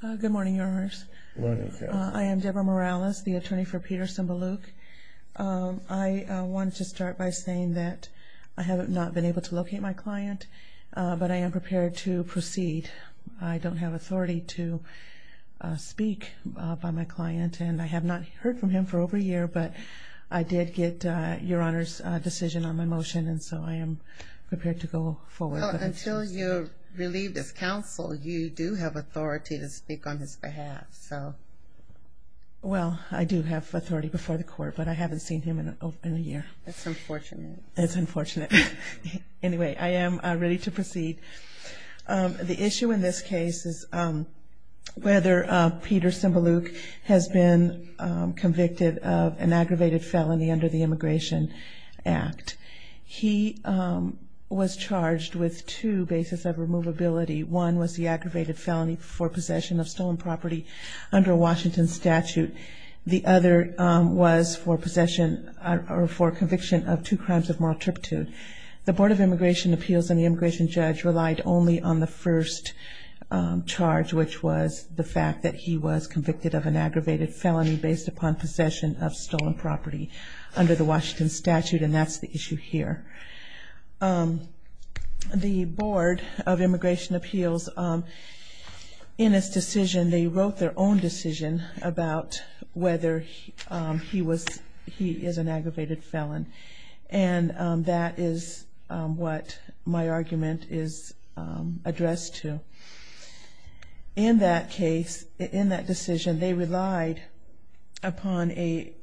Good morning, Your Honors. Good morning, Counsel. I am Deborah Morales, the attorney for Peter Tsimbalyuk. I wanted to start by saying that I have not been able to locate my client, but I am prepared to proceed. I don't have authority to speak by my client, and I have not heard from him for over a year, but I did get Your Honor's decision on my motion, and so I am prepared to go forward. Well, until you're relieved as counsel, you do have authority to speak on his behalf, so. Well, I do have authority before the court, but I haven't seen him in a year. That's unfortunate. That's unfortunate. Anyway, I am ready to proceed. The issue in this case is whether Peter Tsimbalyuk has been convicted of an aggravated felony under the Immigration Act. He was charged with two bases of removability. One was the aggravated felony for possession of stolen property under a Washington statute. The other was for possession or for conviction of two crimes of moral turpitude. The Board of Immigration Appeals and the immigration judge relied only on the first charge, which was the fact that he was convicted of an aggravated felony based upon possession of stolen property under the Washington statute, and that's the issue here. The Board of Immigration Appeals, in its decision, they wrote their own decision about whether he is an aggravated felon, and that is what my argument is addressed to. In that case, in that decision, they relied upon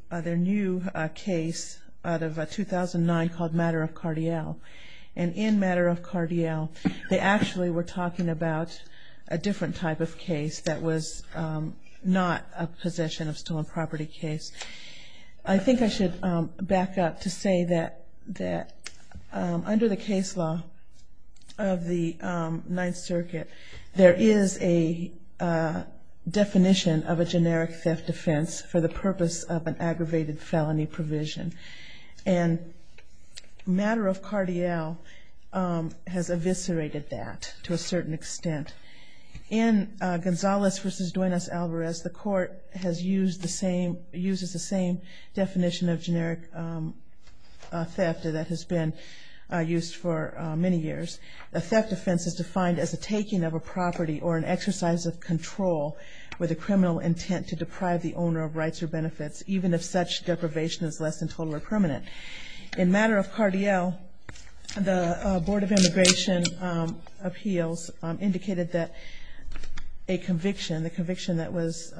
their new case out of 2009 called Matter of Cardiel. And in Matter of Cardiel, they actually were talking about a different type of case that was not a possession of stolen property case. I think I should back up to say that under the case law of the Ninth Circuit, there is a definition of a generic theft offense for the purpose of an aggravated felony provision. And Matter of Cardiel has eviscerated that to a certain extent. In Gonzalez v. Duenas-Alvarez, the court has used the same, uses the same definition of generic theft that has been used for many years. A theft offense is defined as a taking of a property or an exercise of control with a criminal intent to deprive the owner of rights or benefits, even if such deprivation is less than total or permanent. In Matter of Cardiel, the Board of Immigration Appeals indicated that a conviction, the conviction that was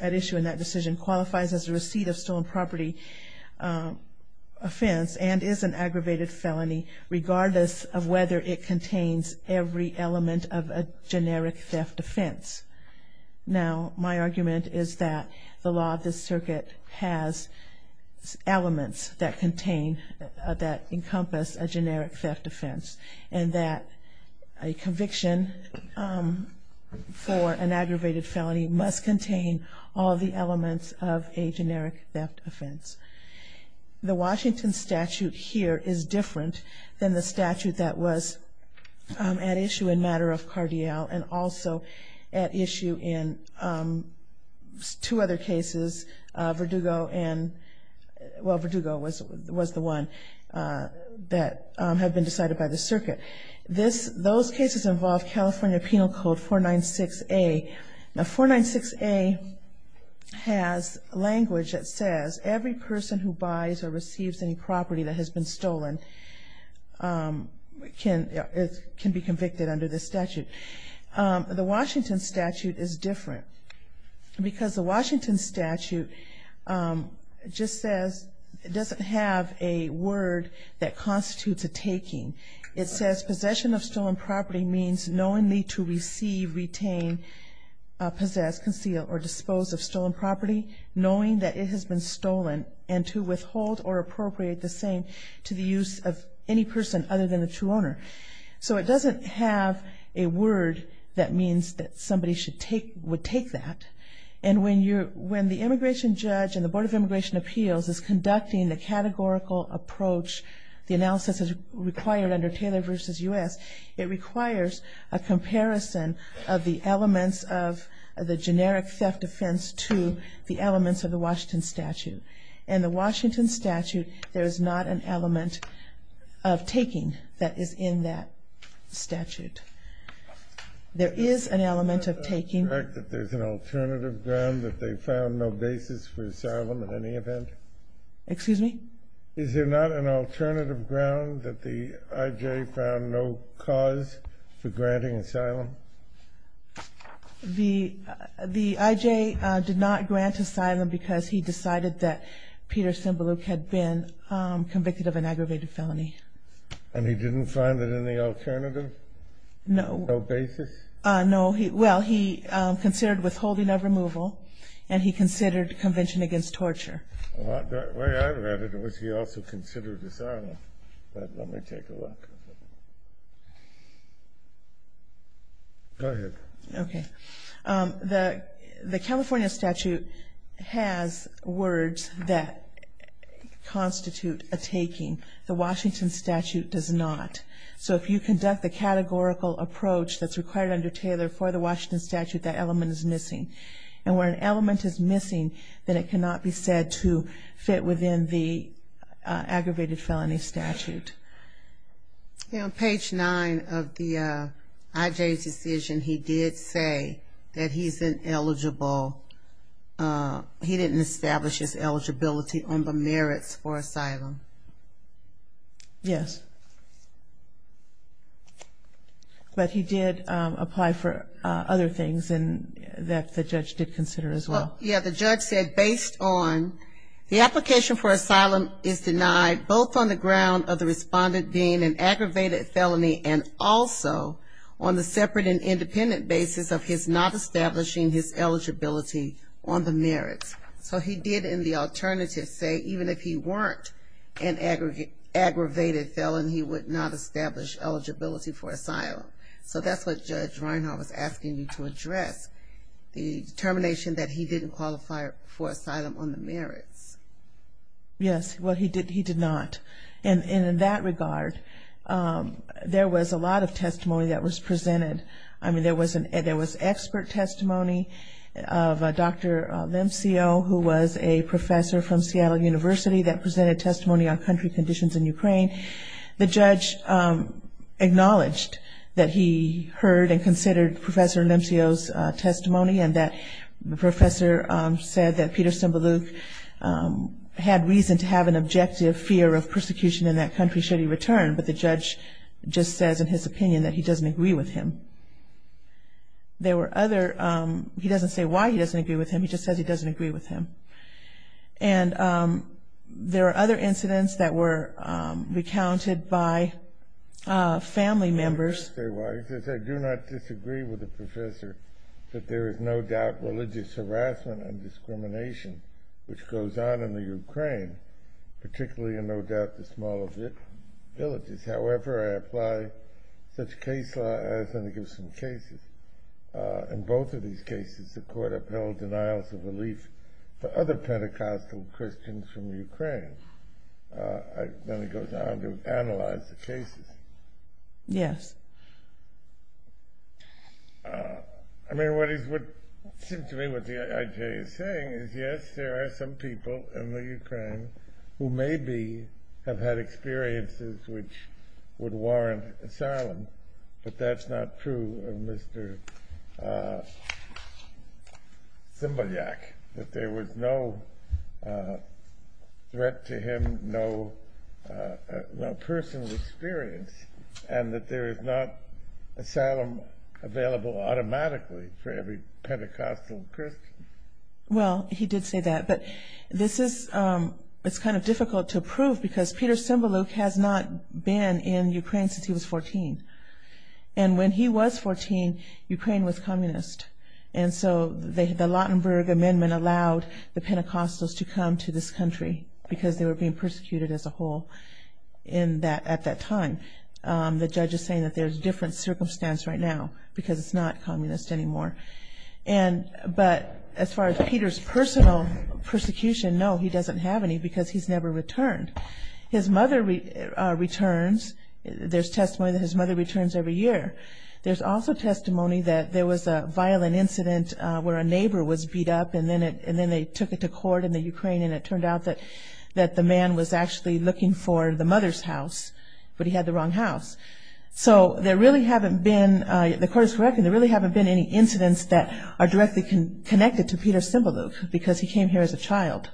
at issue in that decision qualifies as a receipt of stolen property offense and is an aggravated felony regardless of whether it contains every element of a generic theft offense. Now, my argument is that the law of this circuit has elements that contain, that encompass a generic theft offense and that a conviction for an aggravated felony must contain all of the elements of a generic theft offense. The Washington statute here is different than the statute that was at issue in Matter of Cardiel and also at issue in two other cases, Verdugo and, well, Verdugo was the one that had been decided by the circuit. Those cases involve California Penal Code 496A. Now, 496A has language that says every person who buys or receives any property that has been stolen can be convicted under this statute. The Washington statute is different because the Washington statute just says, it doesn't have a word that constitutes a taking. It says possession of stolen property means knowingly to receive, retain, possess, conceal, or dispose of stolen property, knowing that it has been stolen, and to withhold or appropriate the same to the use of any person other than the true owner. So it doesn't have a word that means that somebody would take that. And when the immigration judge and the Board of Immigration Appeals is conducting the categorical approach, the analysis is required under Taylor v. U.S., it requires a comparison of the elements of the generic theft offense to the elements of the Washington statute. In the Washington statute, there is not an element of taking that is in that statute. There is an element of taking. Is it correct that there's an alternative ground that they found no basis for asylum in any event? Excuse me? Is there not an alternative ground that the I.J. found no cause for granting asylum? The I.J. did not grant asylum because he decided that Peter Sembeluk had been convicted of an aggravated felony. And he didn't find it any alternative? No. Well, he considered withholding of removal, and he considered convention against torture. The way I read it was he also considered asylum. Go ahead. The California statute has words that constitute a taking. The Washington statute does not. So if you conduct the categorical approach that's required under Taylor for the Washington statute, that element is missing. And where an element is missing, then it cannot be said to fit within the aggravated felony statute. On page 9 of the I.J.'s decision, he did say that he's ineligible. He didn't establish his eligibility under merits for asylum. Yes. But he did apply for other things that the judge did consider as well. Well, yeah, the judge said based on the application for asylum is denied, both on the ground of the respondent being an aggravated felony and also on the separate and independent basis of his not establishing his eligibility on the merits. So he did in the alternative say even if he weren't an aggravated felony, he would not establish eligibility for asylum. So that's what Judge Reinhart was asking you to address, the determination that he didn't qualify for asylum on the merits. Yes, well, he did not. And in that regard, there was a lot of testimony that was presented. I mean, there was expert testimony of Dr. Lemcio, who was a professor from Seattle University, that presented testimony on country conditions in Ukraine. The judge acknowledged that he heard and considered Professor Lemcio's testimony and that the professor said that Peter Simbaluk had reason to have an objective fear of persecution in that country should he return, but the judge just says in his opinion that he doesn't agree with him. He doesn't say why he doesn't agree with him, he just says he doesn't agree with him. And there are other incidents that were recounted by family members. He says, I do not disagree with the professor that there is no doubt religious harassment and discrimination, which goes on in the Ukraine, particularly in no doubt the smaller villages. However, I apply such case law, I was going to give some cases. In both of these cases, the court upheld denials of relief for other Pentecostal Christians from Ukraine. Then it goes on to analyze the cases. I mean, what seems to me what the IJ is saying is yes, there are some people in the Ukraine who maybe have had experiences which would warrant asylum, but that's not true of Mr. Simbaluk, that there was no threat to him, no personal experience, and that there is not asylum available automatically for every Pentecostal Christian. Well, he did say that, but it's kind of difficult to prove because Peter Simbaluk has not been in Ukraine since he was 14. And when he was 14, Ukraine was communist. And so the Lautenberg Amendment allowed the Pentecostals to come to this country because they were being persecuted as a whole at that time. The judge is saying that there's a different circumstance right now because it's not communist anymore. But as far as Peter's personal persecution, no, he doesn't have any because he's never returned. His mother returns. There's testimony that his mother returns every year. There's also testimony that there was a violent incident where a neighbor was beat up and then they took it to court in the Ukraine, and it turned out that the man was actually looking for the mother's house, but he had the wrong house. So there really haven't been any incidents that are directly connected to Peter Simbaluk because he came here as a child.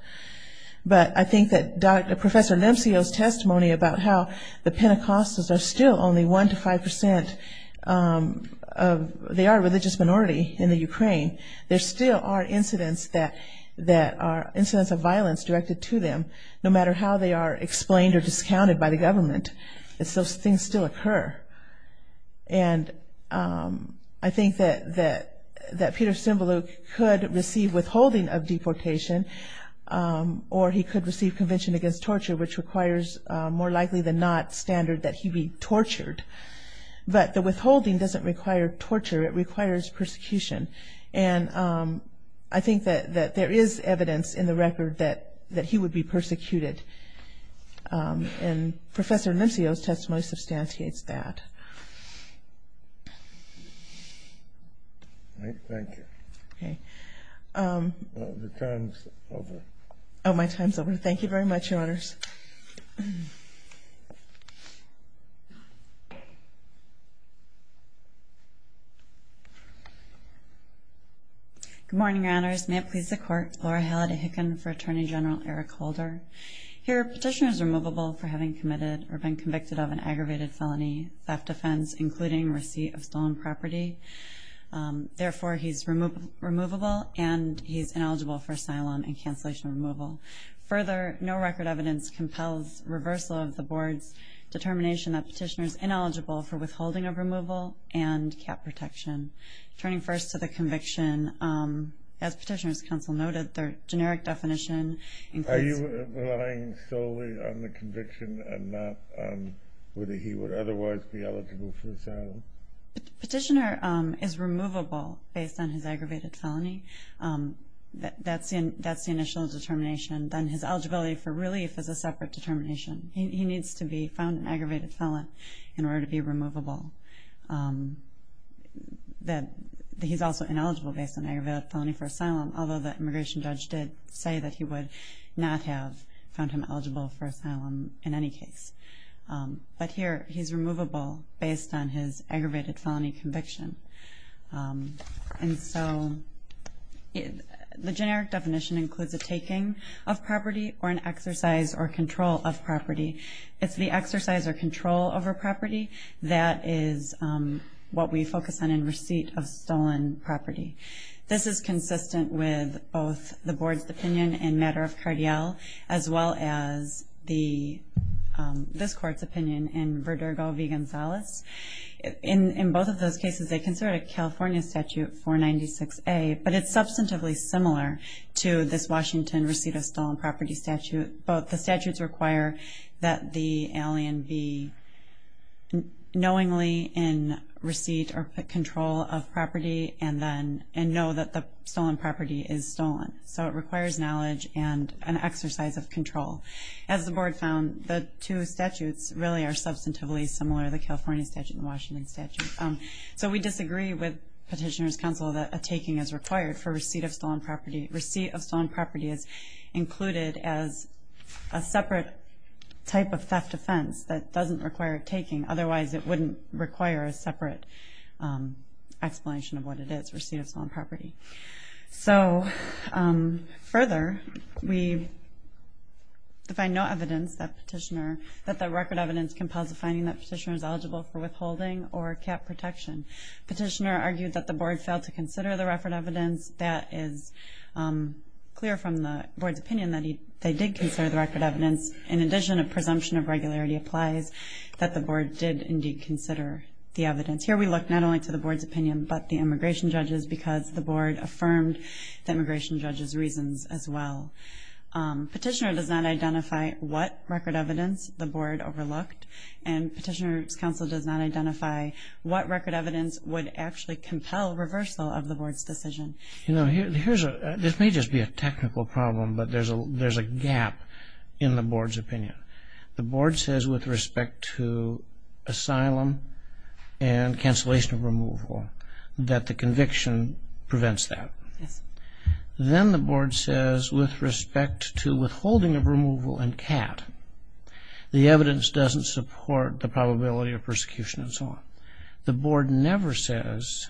But I think that Professor Lemcio's testimony about how the Pentecostals are still only 1 to 5 percent, they are a religious minority in the Ukraine, there still are incidents of violence directed to them, no matter how they are explained or discounted by the government. Those things still occur. And I think that Peter Simbaluk could receive withholding of deportation or he could receive Convention Against Torture, which requires more likely than not standard that he be tortured. But the withholding doesn't require torture, it requires persecution. And I think that there is evidence in the record that he would be persecuted. And Professor Lemcio's testimony substantiates that. Thank you. Your time is over. Oh, my time is over. Thank you very much, Your Honors. Good morning, Your Honors. May it please the Court. Laura Halliday Hicken for Attorney General Eric Holder. Here a petitioner is removable for having committed or been convicted of an aggravated felony, theft offense, including receipt of stolen property. Therefore, he is removable and he is ineligible for asylum and cancellation of removal. Further, no record evidence compels reversal of the Board's determination that the petitioner is ineligible for withholding of removal and cap protection. Turning first to the conviction, as Petitioner's Counsel noted, the generic definition includes... Are you relying solely on the conviction and not on whether he would otherwise be eligible for asylum? Petitioner is removable based on his aggravated felony. That's the initial determination. Then his eligibility for relief is a separate determination. He needs to be found an aggravated felon in order to be removable. He's also ineligible based on aggravated felony for asylum, although the immigration judge did say that he would not have found him eligible for asylum in any case. But here, he's removable based on his aggravated felony conviction. The generic definition includes a taking of property or an exercise or control of property. It's the exercise or control over property that is what we focus on in receipt of stolen property. This is consistent with both the Board's opinion in matter of Cardiel as well as this Court's opinion in Verdugo v. Gonzalez. In both of those cases, they consider it a California Statute 496A, but it's substantively similar to this Washington receipt of stolen property statute. The statutes require that the alien be knowingly in receipt or control of property and know that the stolen property is stolen. So it requires knowledge and an exercise of control. As the Board found, the two statutes really are substantively similar, the California statute and the Washington statute. So we disagree with Petitioner's Counsel that a taking is required for receipt of stolen property. Receipt of stolen property is included as a separate type of theft offense that doesn't require a taking. Otherwise, it wouldn't require a separate explanation of what it is, receipt of stolen property. So further, we find no evidence that the record evidence compels a finding that Petitioner is eligible for withholding or cap protection. Petitioner argued that the Board failed to consider the record evidence. That is clear from the Board's opinion that they did consider the record evidence. In addition, a presumption of regularity applies that the Board did indeed consider the evidence. Here we look not only to the Board's opinion but the immigration judge's because the Board affirmed the immigration judge's reasons as well. Petitioner does not identify what record evidence the Board overlooked, and Petitioner's Counsel does not identify what record evidence would actually compel reversal of the Board's decision. You know, this may just be a technical problem, but there's a gap in the Board's opinion. The Board says with respect to asylum and cancellation of removal that the conviction prevents that. Yes. Then the Board says with respect to withholding of removal and cap, the evidence doesn't support the probability of persecution and so on. The Board never says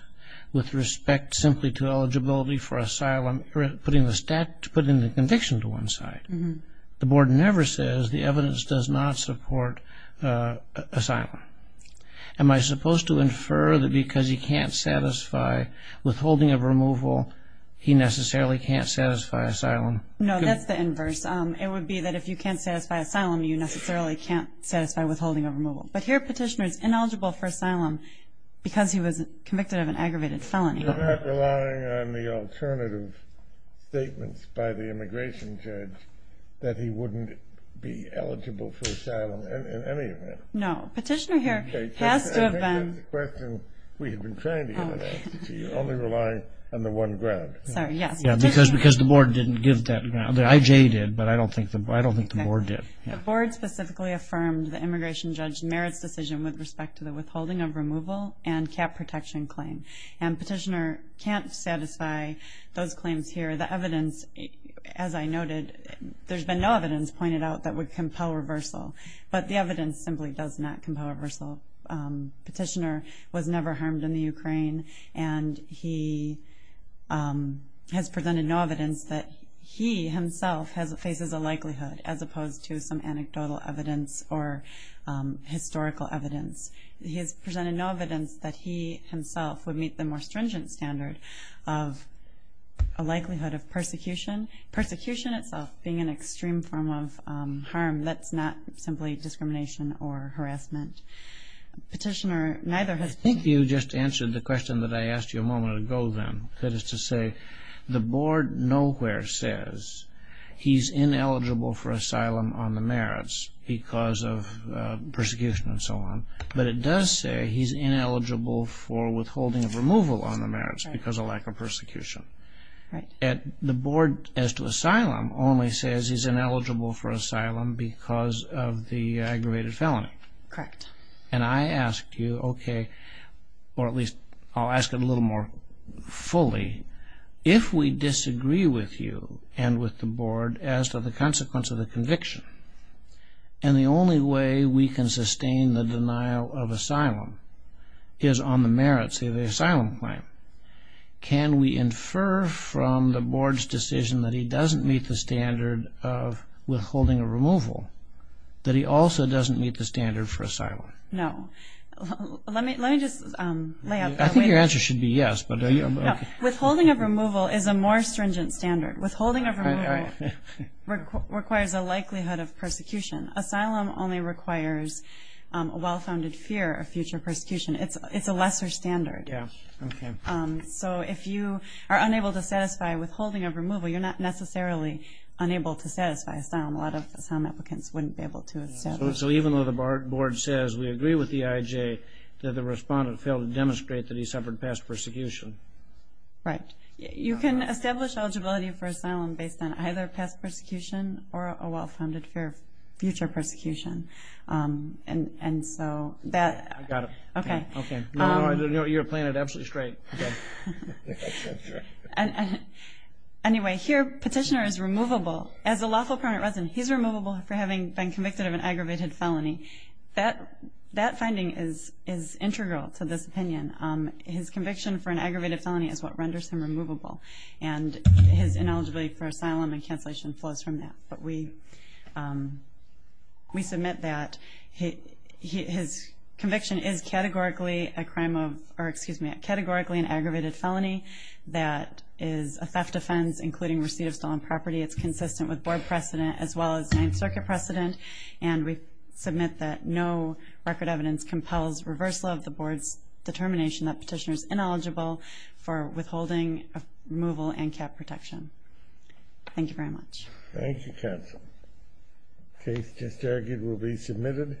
with respect simply to eligibility for asylum, putting the conviction to one side. The Board never says the evidence does not support asylum. Am I supposed to infer that because he can't satisfy withholding of removal, he necessarily can't satisfy asylum? No, that's the inverse. It would be that if you can't satisfy asylum, you necessarily can't satisfy withholding of removal. But here Petitioner's ineligible for asylum because he was convicted of an aggravated felony. You're not relying on the alternative statements by the immigration judge that he wouldn't be eligible for asylum in any event. No, Petitioner here has to have been. I think that's the question we have been trying to get at. You're only relying on the one ground. Sorry, yes. Because the Board didn't give that ground. The IJ did, but I don't think the Board did. The Board specifically affirmed the immigration judge merits decision with respect to the withholding of removal and cap protection claim. And Petitioner can't satisfy those claims here. The evidence, as I noted, there's been no evidence pointed out that would compel reversal. But the evidence simply does not compel reversal. Petitioner was never harmed in the Ukraine, and he has presented no evidence that he himself faces a likelihood, as opposed to some anecdotal evidence or historical evidence. He has presented no evidence that he himself would meet the more stringent standard of a likelihood of persecution. Persecution itself being an extreme form of harm, that's not simply discrimination or harassment. Petitioner, neither has Petitioner. I think you just answered the question that I asked you a moment ago then. That is to say, the Board nowhere says he's ineligible for asylum on the merits because of persecution and so on. But it does say he's ineligible for withholding of removal on the merits because of lack of persecution. The Board, as to asylum, only says he's ineligible for asylum because of the aggravated felony. Correct. And I ask you, okay, or at least I'll ask it a little more fully, if we disagree with you and with the Board as to the consequence of the conviction, and the only way we can sustain the denial of asylum is on the merits of the asylum claim, can we infer from the Board's decision that he doesn't meet the standard of withholding of removal that he also doesn't meet the standard for asylum? No. Let me just lay out that. I think your answer should be yes. Withholding of removal is a more stringent standard. Withholding of removal requires a likelihood of persecution. Asylum only requires a well-founded fear of future persecution. It's a lesser standard. So if you are unable to satisfy withholding of removal, you're not necessarily unable to satisfy asylum. A lot of asylum applicants wouldn't be able to. So even though the Board says we agree with the EIJ, did the respondent fail to demonstrate that he suffered past persecution? Right. You can establish eligibility for asylum based on either past persecution or a well-founded fear of future persecution. I got it. Okay. No, you're playing it absolutely straight. Anyway, here petitioner is removable. As a lawful permanent resident, he's removable for having been convicted of an aggravated felony. That finding is integral to this opinion. His conviction for an aggravated felony is what renders him removable, and his ineligibility for asylum and cancellation flows from that. But we submit that his conviction is categorically an aggravated felony that is a theft offense, including receipt of stolen property. It's consistent with Board precedent as well as Ninth Circuit precedent, and we submit that no record evidence compels reversal of the Board's determination that petitioner is ineligible for withholding removal and CAP protection. Thank you very much. Thank you, counsel. Case just argued will be submitted.